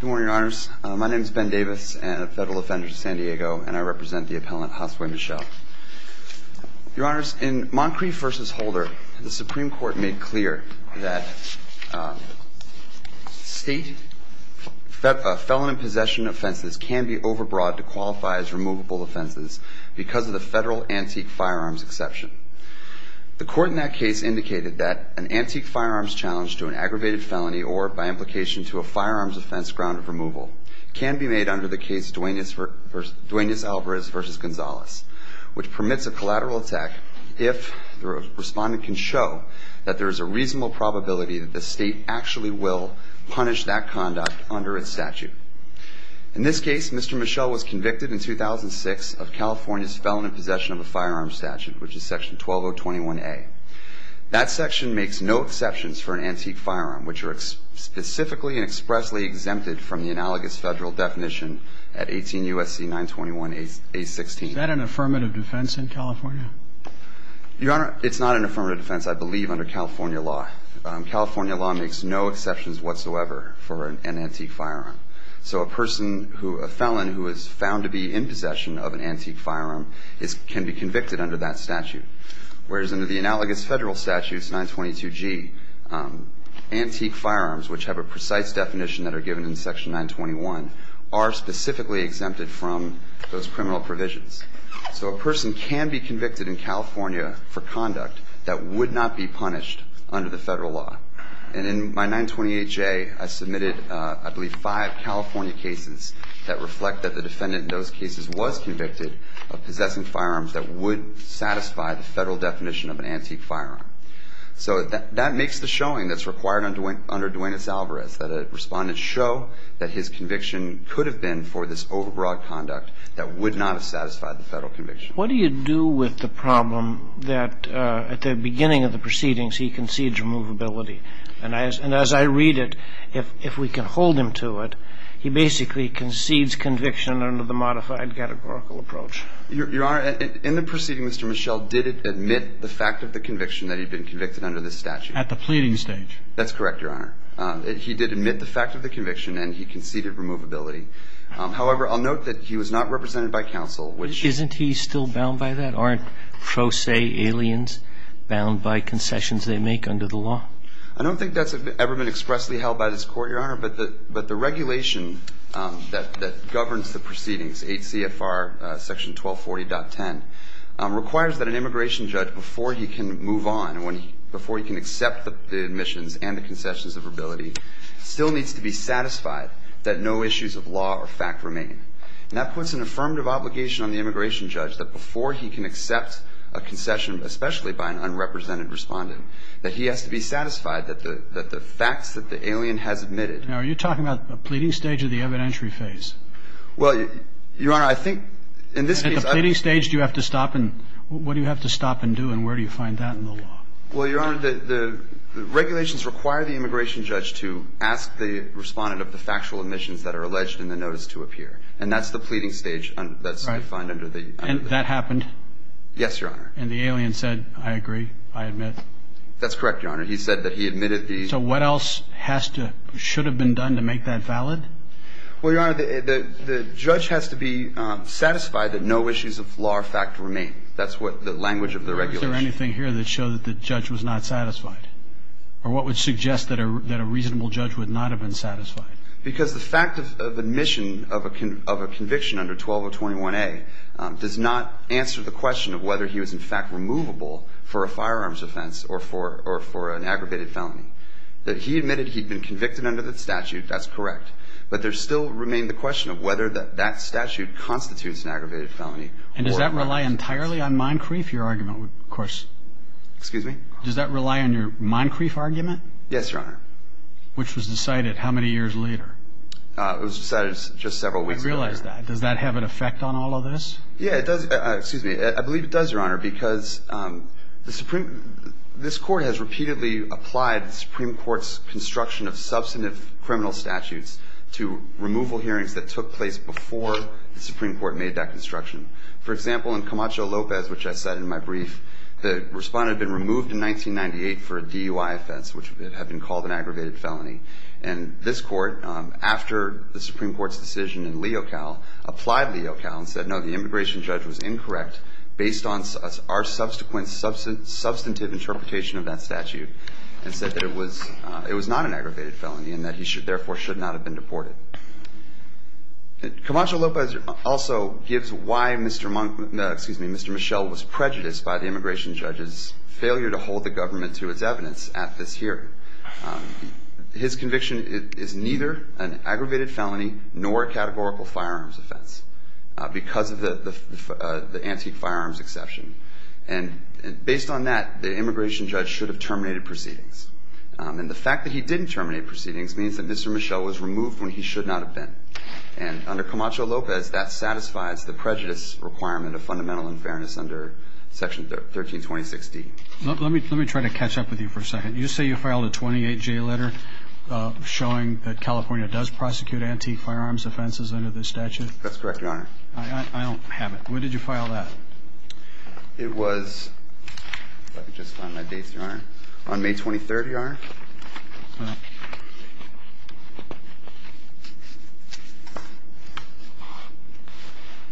Good morning, your honors. My name is Ben Davis, a federal offender to San Diego, and I represent the appellant Josue Michel. Your honors, in Moncrief v. Holder, the Supreme Court made clear that state felon and possession offenses can be overbroad to qualify as removable offenses because of the federal antique firearms exception. The court in that case indicated that an antique firearms challenge to an aggravated felony or, by implication, to a firearms offense ground of removal can be made under the case Duaneus Alvarez v. Gonzalez, which permits a collateral attack if the respondent can show that there is a reasonable probability that the state actually will punish that conduct under its statute. In this case, Mr. Michel was convicted in 2006 of California's felon and possession of a firearms statute, which is section 12021A. That section makes no exceptions for an antique firearm, which are specifically and expressly exempted from the analogous federal definition at 18 U.S.C. 921A16. Is that an affirmative defense in California? Your honor, it's not an affirmative defense, I believe, under California law. California law makes no exceptions whatsoever for an antique firearm. So a person who, a felon who is found to be in possession of an antique firearm can be convicted under that statute. Whereas under the analogous federal statute, 922G, antique firearms, which have a precise definition that are given in section 921, are specifically exempted from those criminal provisions. So a person can be convicted in California for conduct that would not be punished under the federal law. And in my 928J, I submitted, I believe, five California cases that reflect that the defendant in those cases was convicted of possessing firearms that would satisfy the federal definition of an antique firearm. So that makes the showing that's required under Duenas-Alvarez, that a respondent show that his conviction could have been for this overbroad conduct that would not have satisfied the federal conviction. What do you do with the problem that at the beginning of the proceedings he concedes removability? And as I read it, if we can hold him to it, he basically concedes conviction under the modified categorical approach. Your Honor, in the proceeding, Mr. Michel did admit the fact of the conviction that he'd been convicted under this statute. At the pleading stage? That's correct, Your Honor. He did admit the fact of the conviction, and he conceded removability. However, I'll note that he was not represented by counsel, which – Isn't he still bound by that? Aren't pro se aliens bound by concessions they make under the law? I don't think that's ever been expressly held by this Court, Your Honor. But the regulation that governs the proceedings, 8 CFR section 1240.10, requires that an immigration judge, before he can move on, before he can accept the admissions and the concessions of removability, still needs to be satisfied that no issues of law or fact remain. And that puts an affirmative obligation on the immigration judge that before he can accept a concession, especially by an unrepresented respondent, that he has to be satisfied that the facts that the alien has admitted – Now, are you talking about the pleading stage or the evidentiary phase? Well, Your Honor, I think – At the pleading stage, do you have to stop and – what do you have to stop and do, and where do you find that in the law? Well, Your Honor, the regulations require the immigration judge to ask the respondent of the factual admissions that are alleged in the notice to appear. And that's the pleading stage that's defined under the – And that happened? And the alien said, I agree, I admit. That's correct, Your Honor. He said that he admitted the – So what else has to – should have been done to make that valid? Well, Your Honor, the judge has to be satisfied that no issues of law or fact remain. That's what the language of the regulation – Is there anything here that shows that the judge was not satisfied? Or what would suggest that a reasonable judge would not have been satisfied? Because the fact of admission of a conviction under 12021A does not answer the question of whether he was in fact removable for a firearms offense or for an aggravated felony. That he admitted he'd been convicted under the statute, that's correct. But there still remained the question of whether that statute constitutes an aggravated felony. And does that rely entirely on Moncrief, your argument? Of course – Excuse me? Does that rely on your Moncrief argument? Yes, Your Honor. Which was decided how many years later? It was decided just several weeks later. I realize that. Does that have an effect on all of this? Yeah, it does – excuse me. I believe it does, Your Honor, because the Supreme – this Court has repeatedly applied the Supreme Court's construction of substantive criminal statutes to removal hearings that took place before the Supreme Court made that construction. For example, in Camacho Lopez, which I cited in my brief, the respondent had been removed in 1998 for a DUI offense, which had been called an aggravated felony. And this Court, after the Supreme Court's decision in Leocal, applied Leocal and said, no, the immigration judge was incorrect based on our subsequent substantive interpretation of that statute. And said that it was not an aggravated felony and that he therefore should not have been deported. Camacho Lopez also gives why Mr. Monc – excuse me, Mr. Michel was prejudiced by the immigration judge's failure to hold the government to its evidence at this hearing. His conviction is neither an aggravated felony nor a categorical firearms offense because of the antique firearms exception. And based on that, the immigration judge should have terminated proceedings. And the fact that he didn't terminate proceedings means that Mr. Michel was removed when he should not have been. And under Camacho Lopez, that satisfies the prejudice requirement of fundamental unfairness under Section 1326D. Let me try to catch up with you for a second. You say you filed a 28-J letter showing that California does prosecute antique firearms offenses under this statute? That's correct, Your Honor. I don't have it. When did you file that? It was – let me just find my dates, Your Honor – on May 23rd, Your Honor.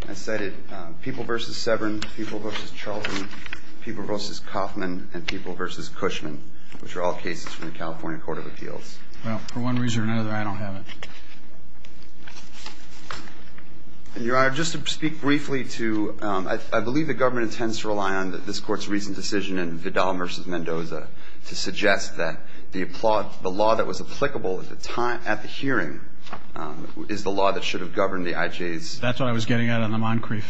I cited People v. Severn, People v. Charlton, People v. Kaufman, and People v. Cushman, which are all cases from the California Court of Appeals. Well, for one reason or another, I don't have it. And, Your Honor, just to speak briefly to – I believe the government intends to rely on this Court's recent decision in Vidal v. Mendoza to suggest that the law that was applicable at the time – at the hearing is the law that should have governed the IJ's analysis. That's what I was getting at on the Moncrief.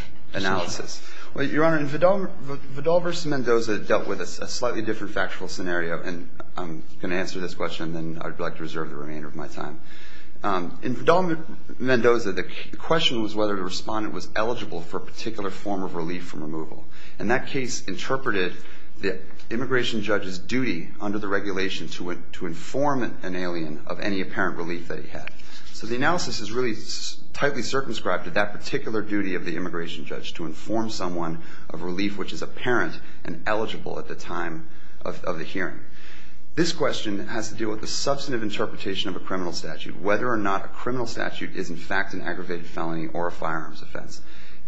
Well, Your Honor, Vidal v. Mendoza dealt with a slightly different factual scenario. And I'm going to answer this question, and then I'd like to reserve the remainder of my time. In Vidal v. Mendoza, the question was whether the respondent was eligible for a particular form of relief from removal. And that case interpreted the immigration judge's duty under the regulation to inform an alien of any apparent relief that he had. So the analysis is really tightly circumscribed to that particular duty of the immigration judge, to inform someone of relief which is apparent and eligible at the time of the hearing. This question has to do with the substantive interpretation of a criminal statute, whether or not a criminal statute is, in fact, an aggravated felony or a firearms offense.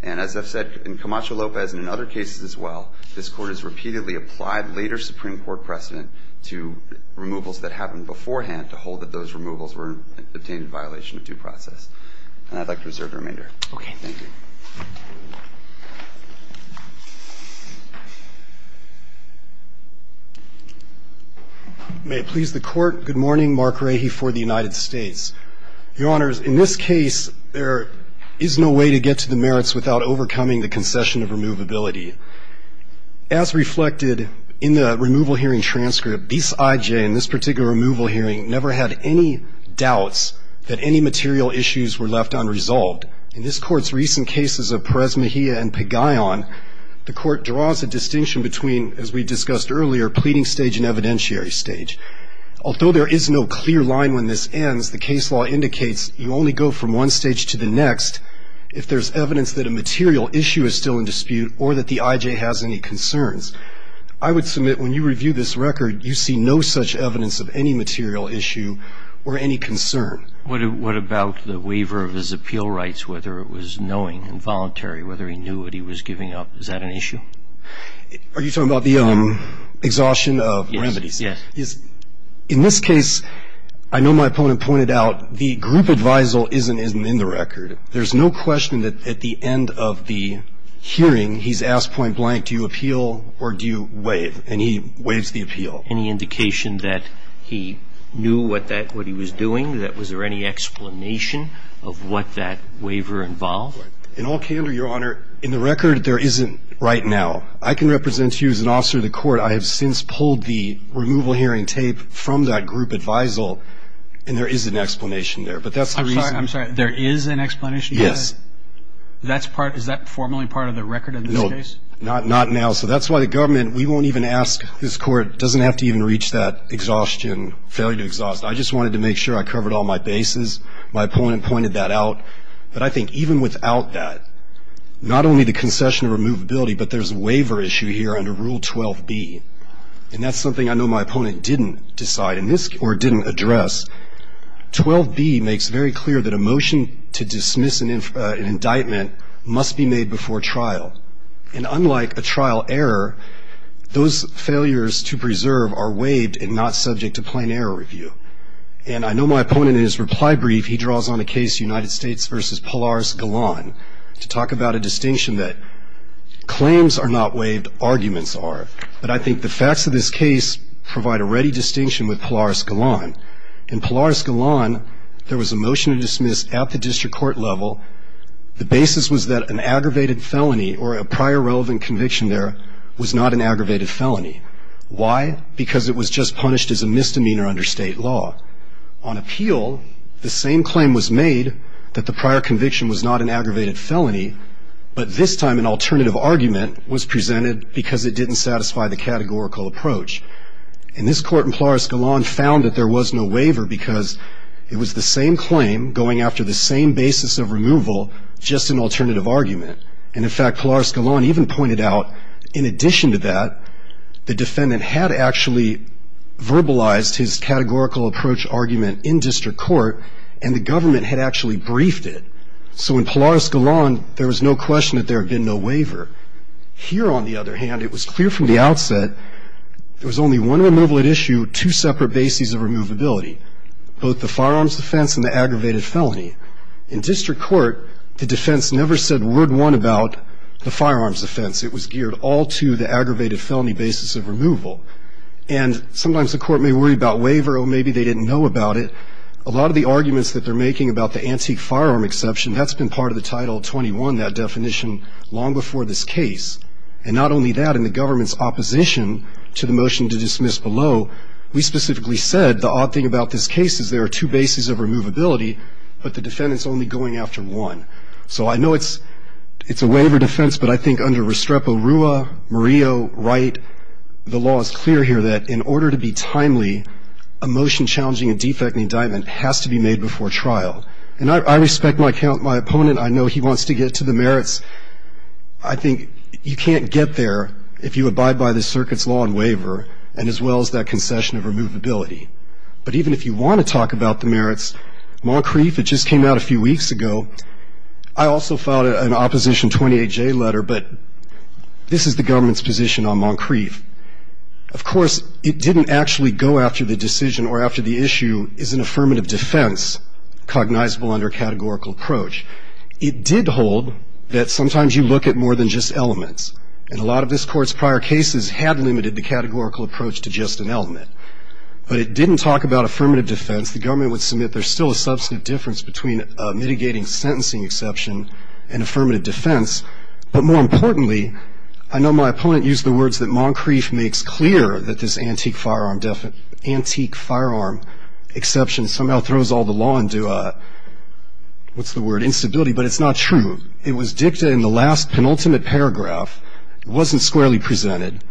And as I've said, in Camacho Lopez and in other cases as well, this Court has repeatedly applied later Supreme Court precedent to removals that happened beforehand to hold that those removals were obtained in violation of due process. And I'd like to reserve the remainder. Okay. Thank you. May it please the Court. Good morning. Mark Rahe for the United States. Your Honors, in this case, there is no way to get to the merits without overcoming the concession of removability. As reflected in the removal hearing transcript, this IJ in this particular removal hearing never had any doubts that any material issues were left unresolved. In this Court's recent cases of Perez Mejia and Pagayan, the Court draws a distinction between, as we discussed earlier, pleading stage and evidentiary stage. Although there is no clear line when this ends, the case law indicates you only go from one stage to the next if there's evidence that a material issue is still in dispute or that the IJ has any concerns. I would submit when you review this record, you see no such evidence of any material issue or any concern. What about the waiver of his appeal rights, whether it was knowing and voluntary, whether he knew what he was giving up? Is that an issue? Are you talking about the exhaustion of remedies? Yes. In this case, I know my opponent pointed out the group advisal isn't in the record. There's no question that at the end of the hearing, he's asked point blank, do you appeal or do you waive? And he waives the appeal. Any indication that he knew what he was doing? Was there any explanation of what that waiver involved? In all candor, Your Honor, in the record, there isn't right now. I can represent to you as an officer of the court, I have since pulled the removal hearing tape from that group advisal, and there is an explanation there. But that's the reason. I'm sorry. There is an explanation? Yes. Is that formally part of the record in this case? No. Not now. So that's why the government, we won't even ask this court, doesn't have to even reach that exhaustion, failure to exhaust. I just wanted to make sure I covered all my bases. My opponent pointed that out. But I think even without that, not only the concession of removability, but there's a waiver issue here under Rule 12B. And that's something I know my opponent didn't decide or didn't address. 12B makes very clear that a motion to dismiss an indictment must be made before trial. And unlike a trial error, those failures to preserve are waived and not subject to plain error review. And I know my opponent in his reply brief, he draws on a case, United States v. Polaris-Gallon, to talk about a distinction that claims are not waived, arguments are. But I think the facts of this case provide a ready distinction with Polaris-Gallon. In Polaris-Gallon, there was a motion to dismiss at the district court level. The basis was that an aggravated felony or a prior relevant conviction there was not an aggravated felony. Why? Because it was just punished as a misdemeanor under state law. On appeal, the same claim was made that the prior conviction was not an aggravated felony, but this time an alternative argument was presented because it didn't satisfy the categorical approach. And this court in Polaris-Gallon found that there was no waiver because it was the same claim going after the same basis of removal, just an alternative argument. And in fact, Polaris-Gallon even pointed out, in addition to that, the defendant had actually verbalized his categorical approach argument in district court and the government had actually briefed it. So in Polaris-Gallon, there was no question that there had been no waiver. Here, on the other hand, it was clear from the outset there was only one removal at issue, two separate bases of removability, both the firearms defense and the aggravated felony. In district court, the defense never said word one about the firearms defense. It was geared all to the aggravated felony basis of removal. And sometimes the court may worry about waiver or maybe they didn't know about it. A lot of the arguments that they're making about the antique firearm exception, that's been part of the Title 21, that definition, long before this case. And not only that, in the government's opposition to the motion to dismiss below, we specifically said the odd thing about this case is there are two bases of removability, but the defendant's only going after one. So I know it's a waiver defense, but I think under Restrepo Rua, Murillo, Wright, the law is clear here that in order to be timely, a motion challenging a defect in indictment has to be made before trial. And I respect my opponent. I know he wants to get to the merits. I think you can't get there if you abide by the circuit's law on waiver and as well as that concession of removability. But even if you want to talk about the merits, Moncrief, it just came out a few weeks ago, I also filed an Opposition 28J letter, but this is the government's position on Moncrief. Of course, it didn't actually go after the decision or after the issue, is an affirmative defense cognizable under a categorical approach. It did hold that sometimes you look at more than just elements. And a lot of this Court's prior cases had limited the categorical approach to just an element. But it didn't talk about affirmative defense. Since the government would submit, there's still a substantive difference between mitigating sentencing exception and affirmative defense. But more importantly, I know my opponent used the words that Moncrief makes clear that this antique firearm exception somehow throws all the law into a, what's the word, instability. But it's not true. It was dictated in the last penultimate paragraph. It wasn't squarely presented.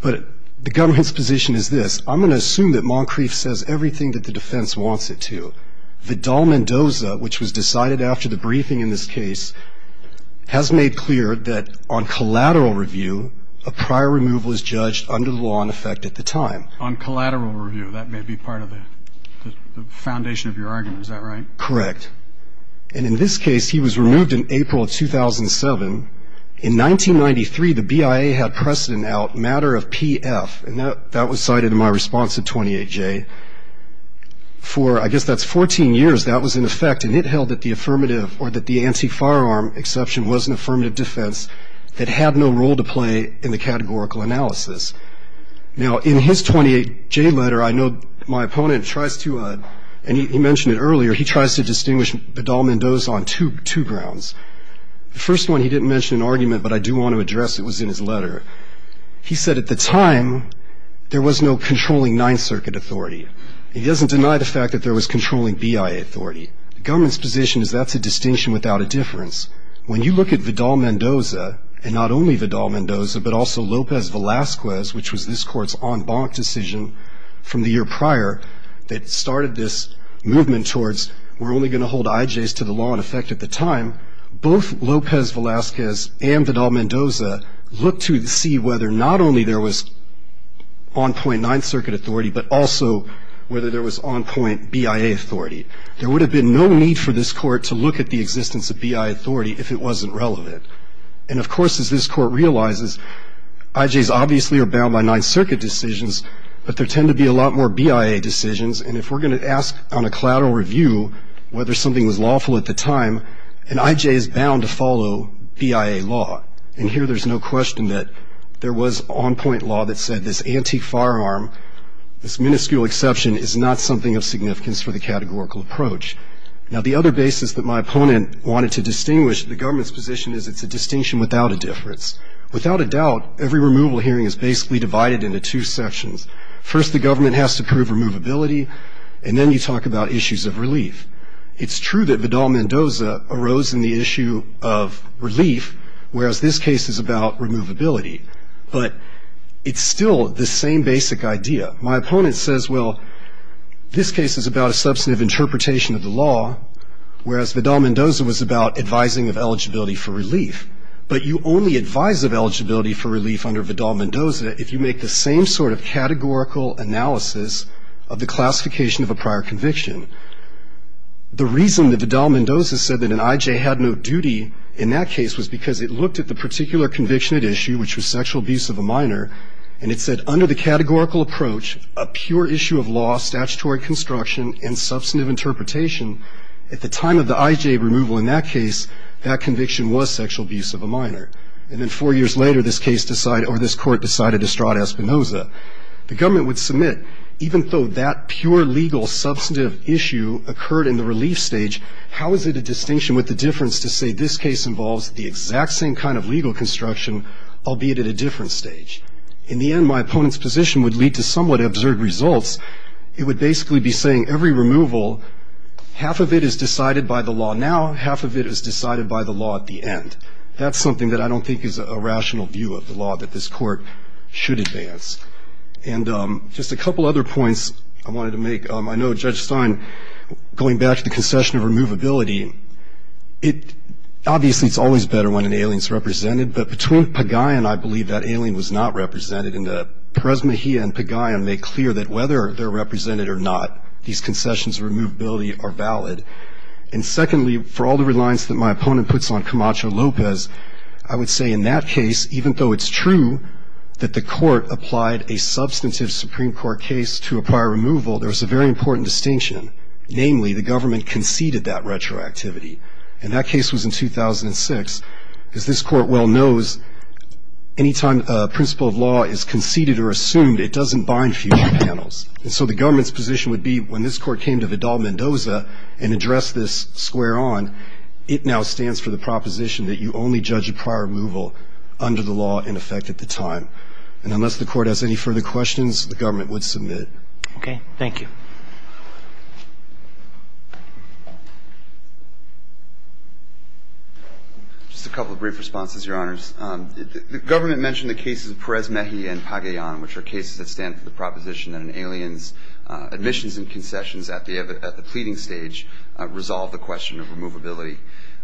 But the government's position is this. I'm going to assume that Moncrief says everything that the defense wants it to. Vidal Mendoza, which was decided after the briefing in this case, has made clear that on collateral review, a prior removal is judged under the law in effect at the time. On collateral review. That may be part of the foundation of your argument. Is that right? Correct. And in this case, he was removed in April of 2007. In 1993, the BIA had precedent out matter of PF. And that was cited in my response to 28J. For, I guess that's 14 years, that was in effect. And it held that the affirmative or that the antique firearm exception was an affirmative defense that had no role to play in the categorical analysis. Now, in his 28J letter, I know my opponent tries to, and he mentioned it earlier, he tries to distinguish Vidal Mendoza on two grounds. The first one he didn't mention in argument, but I do want to address it, was in his letter. He said at the time, there was no controlling Ninth Circuit authority. He doesn't deny the fact that there was controlling BIA authority. The government's position is that's a distinction without a difference. When you look at Vidal Mendoza, and not only Vidal Mendoza, but also Lopez Velasquez, which was this court's en banc decision from the year prior, that started this movement towards we're only going to hold IJs to the law in effect at the time. Both Lopez Velasquez and Vidal Mendoza looked to see whether not only there was on point Ninth Circuit authority, but also whether there was on point BIA authority. There would have been no need for this court to look at the existence of BIA authority if it wasn't relevant. And, of course, as this court realizes, IJs obviously are bound by Ninth Circuit decisions, but there tend to be a lot more BIA decisions. And if we're going to ask on a collateral review whether something was lawful at the time, an IJ is bound to follow BIA law. And here there's no question that there was on point law that said this anti-firearm, this minuscule exception is not something of significance for the categorical approach. Now, the other basis that my opponent wanted to distinguish the government's position is it's a distinction without a difference. Without a doubt, every removal hearing is basically divided into two sections. First, the government has to prove removability, and then you talk about issues of relief. It's true that Vidal-Mendoza arose in the issue of relief, whereas this case is about removability. But it's still the same basic idea. My opponent says, well, this case is about a substantive interpretation of the law, whereas Vidal-Mendoza was about advising of eligibility for relief. But you only advise of eligibility for relief under Vidal-Mendoza if you make the same sort of categorical analysis of the classification of a prior conviction. The reason that Vidal-Mendoza said that an I.J. had no duty in that case was because it looked at the particular conviction at issue, which was sexual abuse of a minor, and it said under the categorical approach, a pure issue of law, statutory construction, and substantive interpretation, at the time of the I.J. removal in that case, that conviction was sexual abuse of a minor. And then four years later, this case decided, or this court decided to stride Espinoza. The government would submit, even though that pure legal substantive issue occurred in the relief stage, how is it a distinction with the difference to say this case involves the exact same kind of legal construction, albeit at a different stage? In the end, my opponent's position would lead to somewhat absurd results. It would basically be saying every removal, half of it is decided by the law now, half of it is decided by the law at the end. That's something that I don't think is a rational view of the law that this Court should advance. And just a couple other points I wanted to make. I know Judge Stein, going back to the concession of removability, obviously it's always better when an alien is represented. But between Pagayan, I believe that alien was not represented. And Perez-Mejia and Pagayan make clear that whether they're represented or not, these concessions of removability are valid. And secondly, for all the reliance that my opponent puts on Camacho-Lopez, I would say in that case, even though it's true that the Court applied a substantive Supreme Court case to a prior removal, there was a very important distinction. Namely, the government conceded that retroactivity. And that case was in 2006. As this Court well knows, any time a principle of law is conceded or assumed, it doesn't bind future panels. And so the government's position would be when this Court came to Vidal-Mendoza and addressed this square on, it now stands for the proposition that you only judge a prior removal under the law in effect at the time. And unless the Court has any further questions, the government would submit. Okay. Thank you. Just a couple of brief responses, Your Honors. The government mentioned the cases of Perez-Mejia and Pagayan, which are cases that stand for the proposition that an alien's admissions and concessions at the pleading stage resolve the question of removability.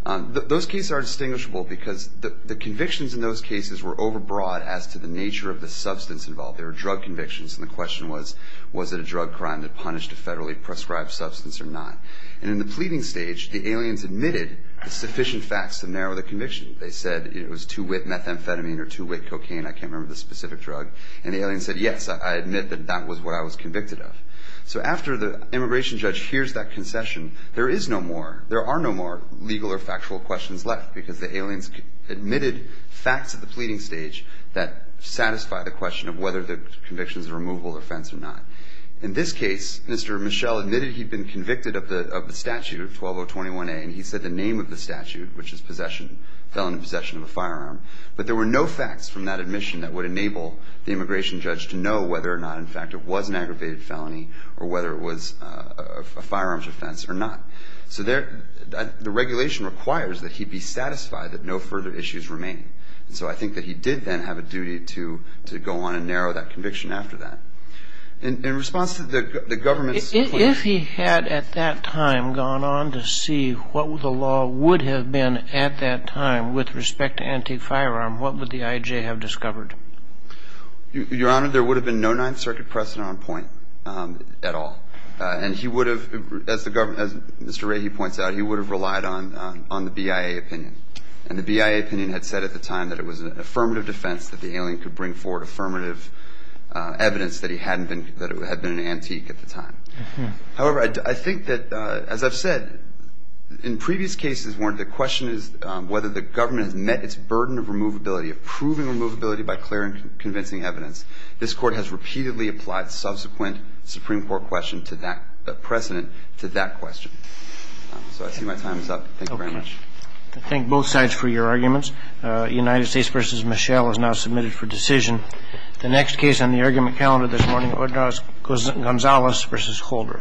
Those cases are distinguishable because the convictions in those cases were overbroad as to the nature of the substance involved. They were drug convictions. And the question was, was it a drug crime that punished a federally prescribed substance or not? And in the pleading stage, the aliens admitted sufficient facts to narrow the conviction. They said it was two-wit methamphetamine or two-wit cocaine. I can't remember the specific drug. And the aliens said, yes, I admit that that was what I was convicted of. So after the immigration judge hears that concession, there is no more, there are no more legal or factual questions left because the aliens admitted facts at the pleading stage that satisfy the question of whether the conviction is a removable offense or not. In this case, Mr. Michel admitted he'd been convicted of the statute of 12021A, and he said the name of the statute, which is possession, felon in possession of a firearm. But there were no facts from that admission that would enable the immigration judge to know whether or not, in fact, it was an aggravated felony or whether it was a firearms offense or not. So the regulation requires that he be satisfied that no further issues remain. And so I think that he did then have a duty to go on and narrow that conviction after that. In response to the government's plea. If he had at that time gone on to see what the law would have been at that time with respect to antique firearm, what would the IJ have discovered? Your Honor, there would have been no Ninth Circuit precedent on point at all. And he would have, as the government, as Mr. Rahe points out, he would have relied on the BIA opinion. And the BIA opinion had said at the time that it was an affirmative defense that the alien could bring forward affirmative evidence that he hadn't been, that it had been an antique at the time. However, I think that, as I've said, in previous cases, the question is whether the government has met its burden of removability, of proving removability by clear and convincing evidence. This Court has repeatedly applied subsequent Supreme Court question to that precedent, to that question. So I see my time is up. Thank you very much. I thank both sides for your arguments. United States v. Michelle is now submitted for decision. The next case on the argument calendar this morning, Gonzalez v. Holder. Thank you.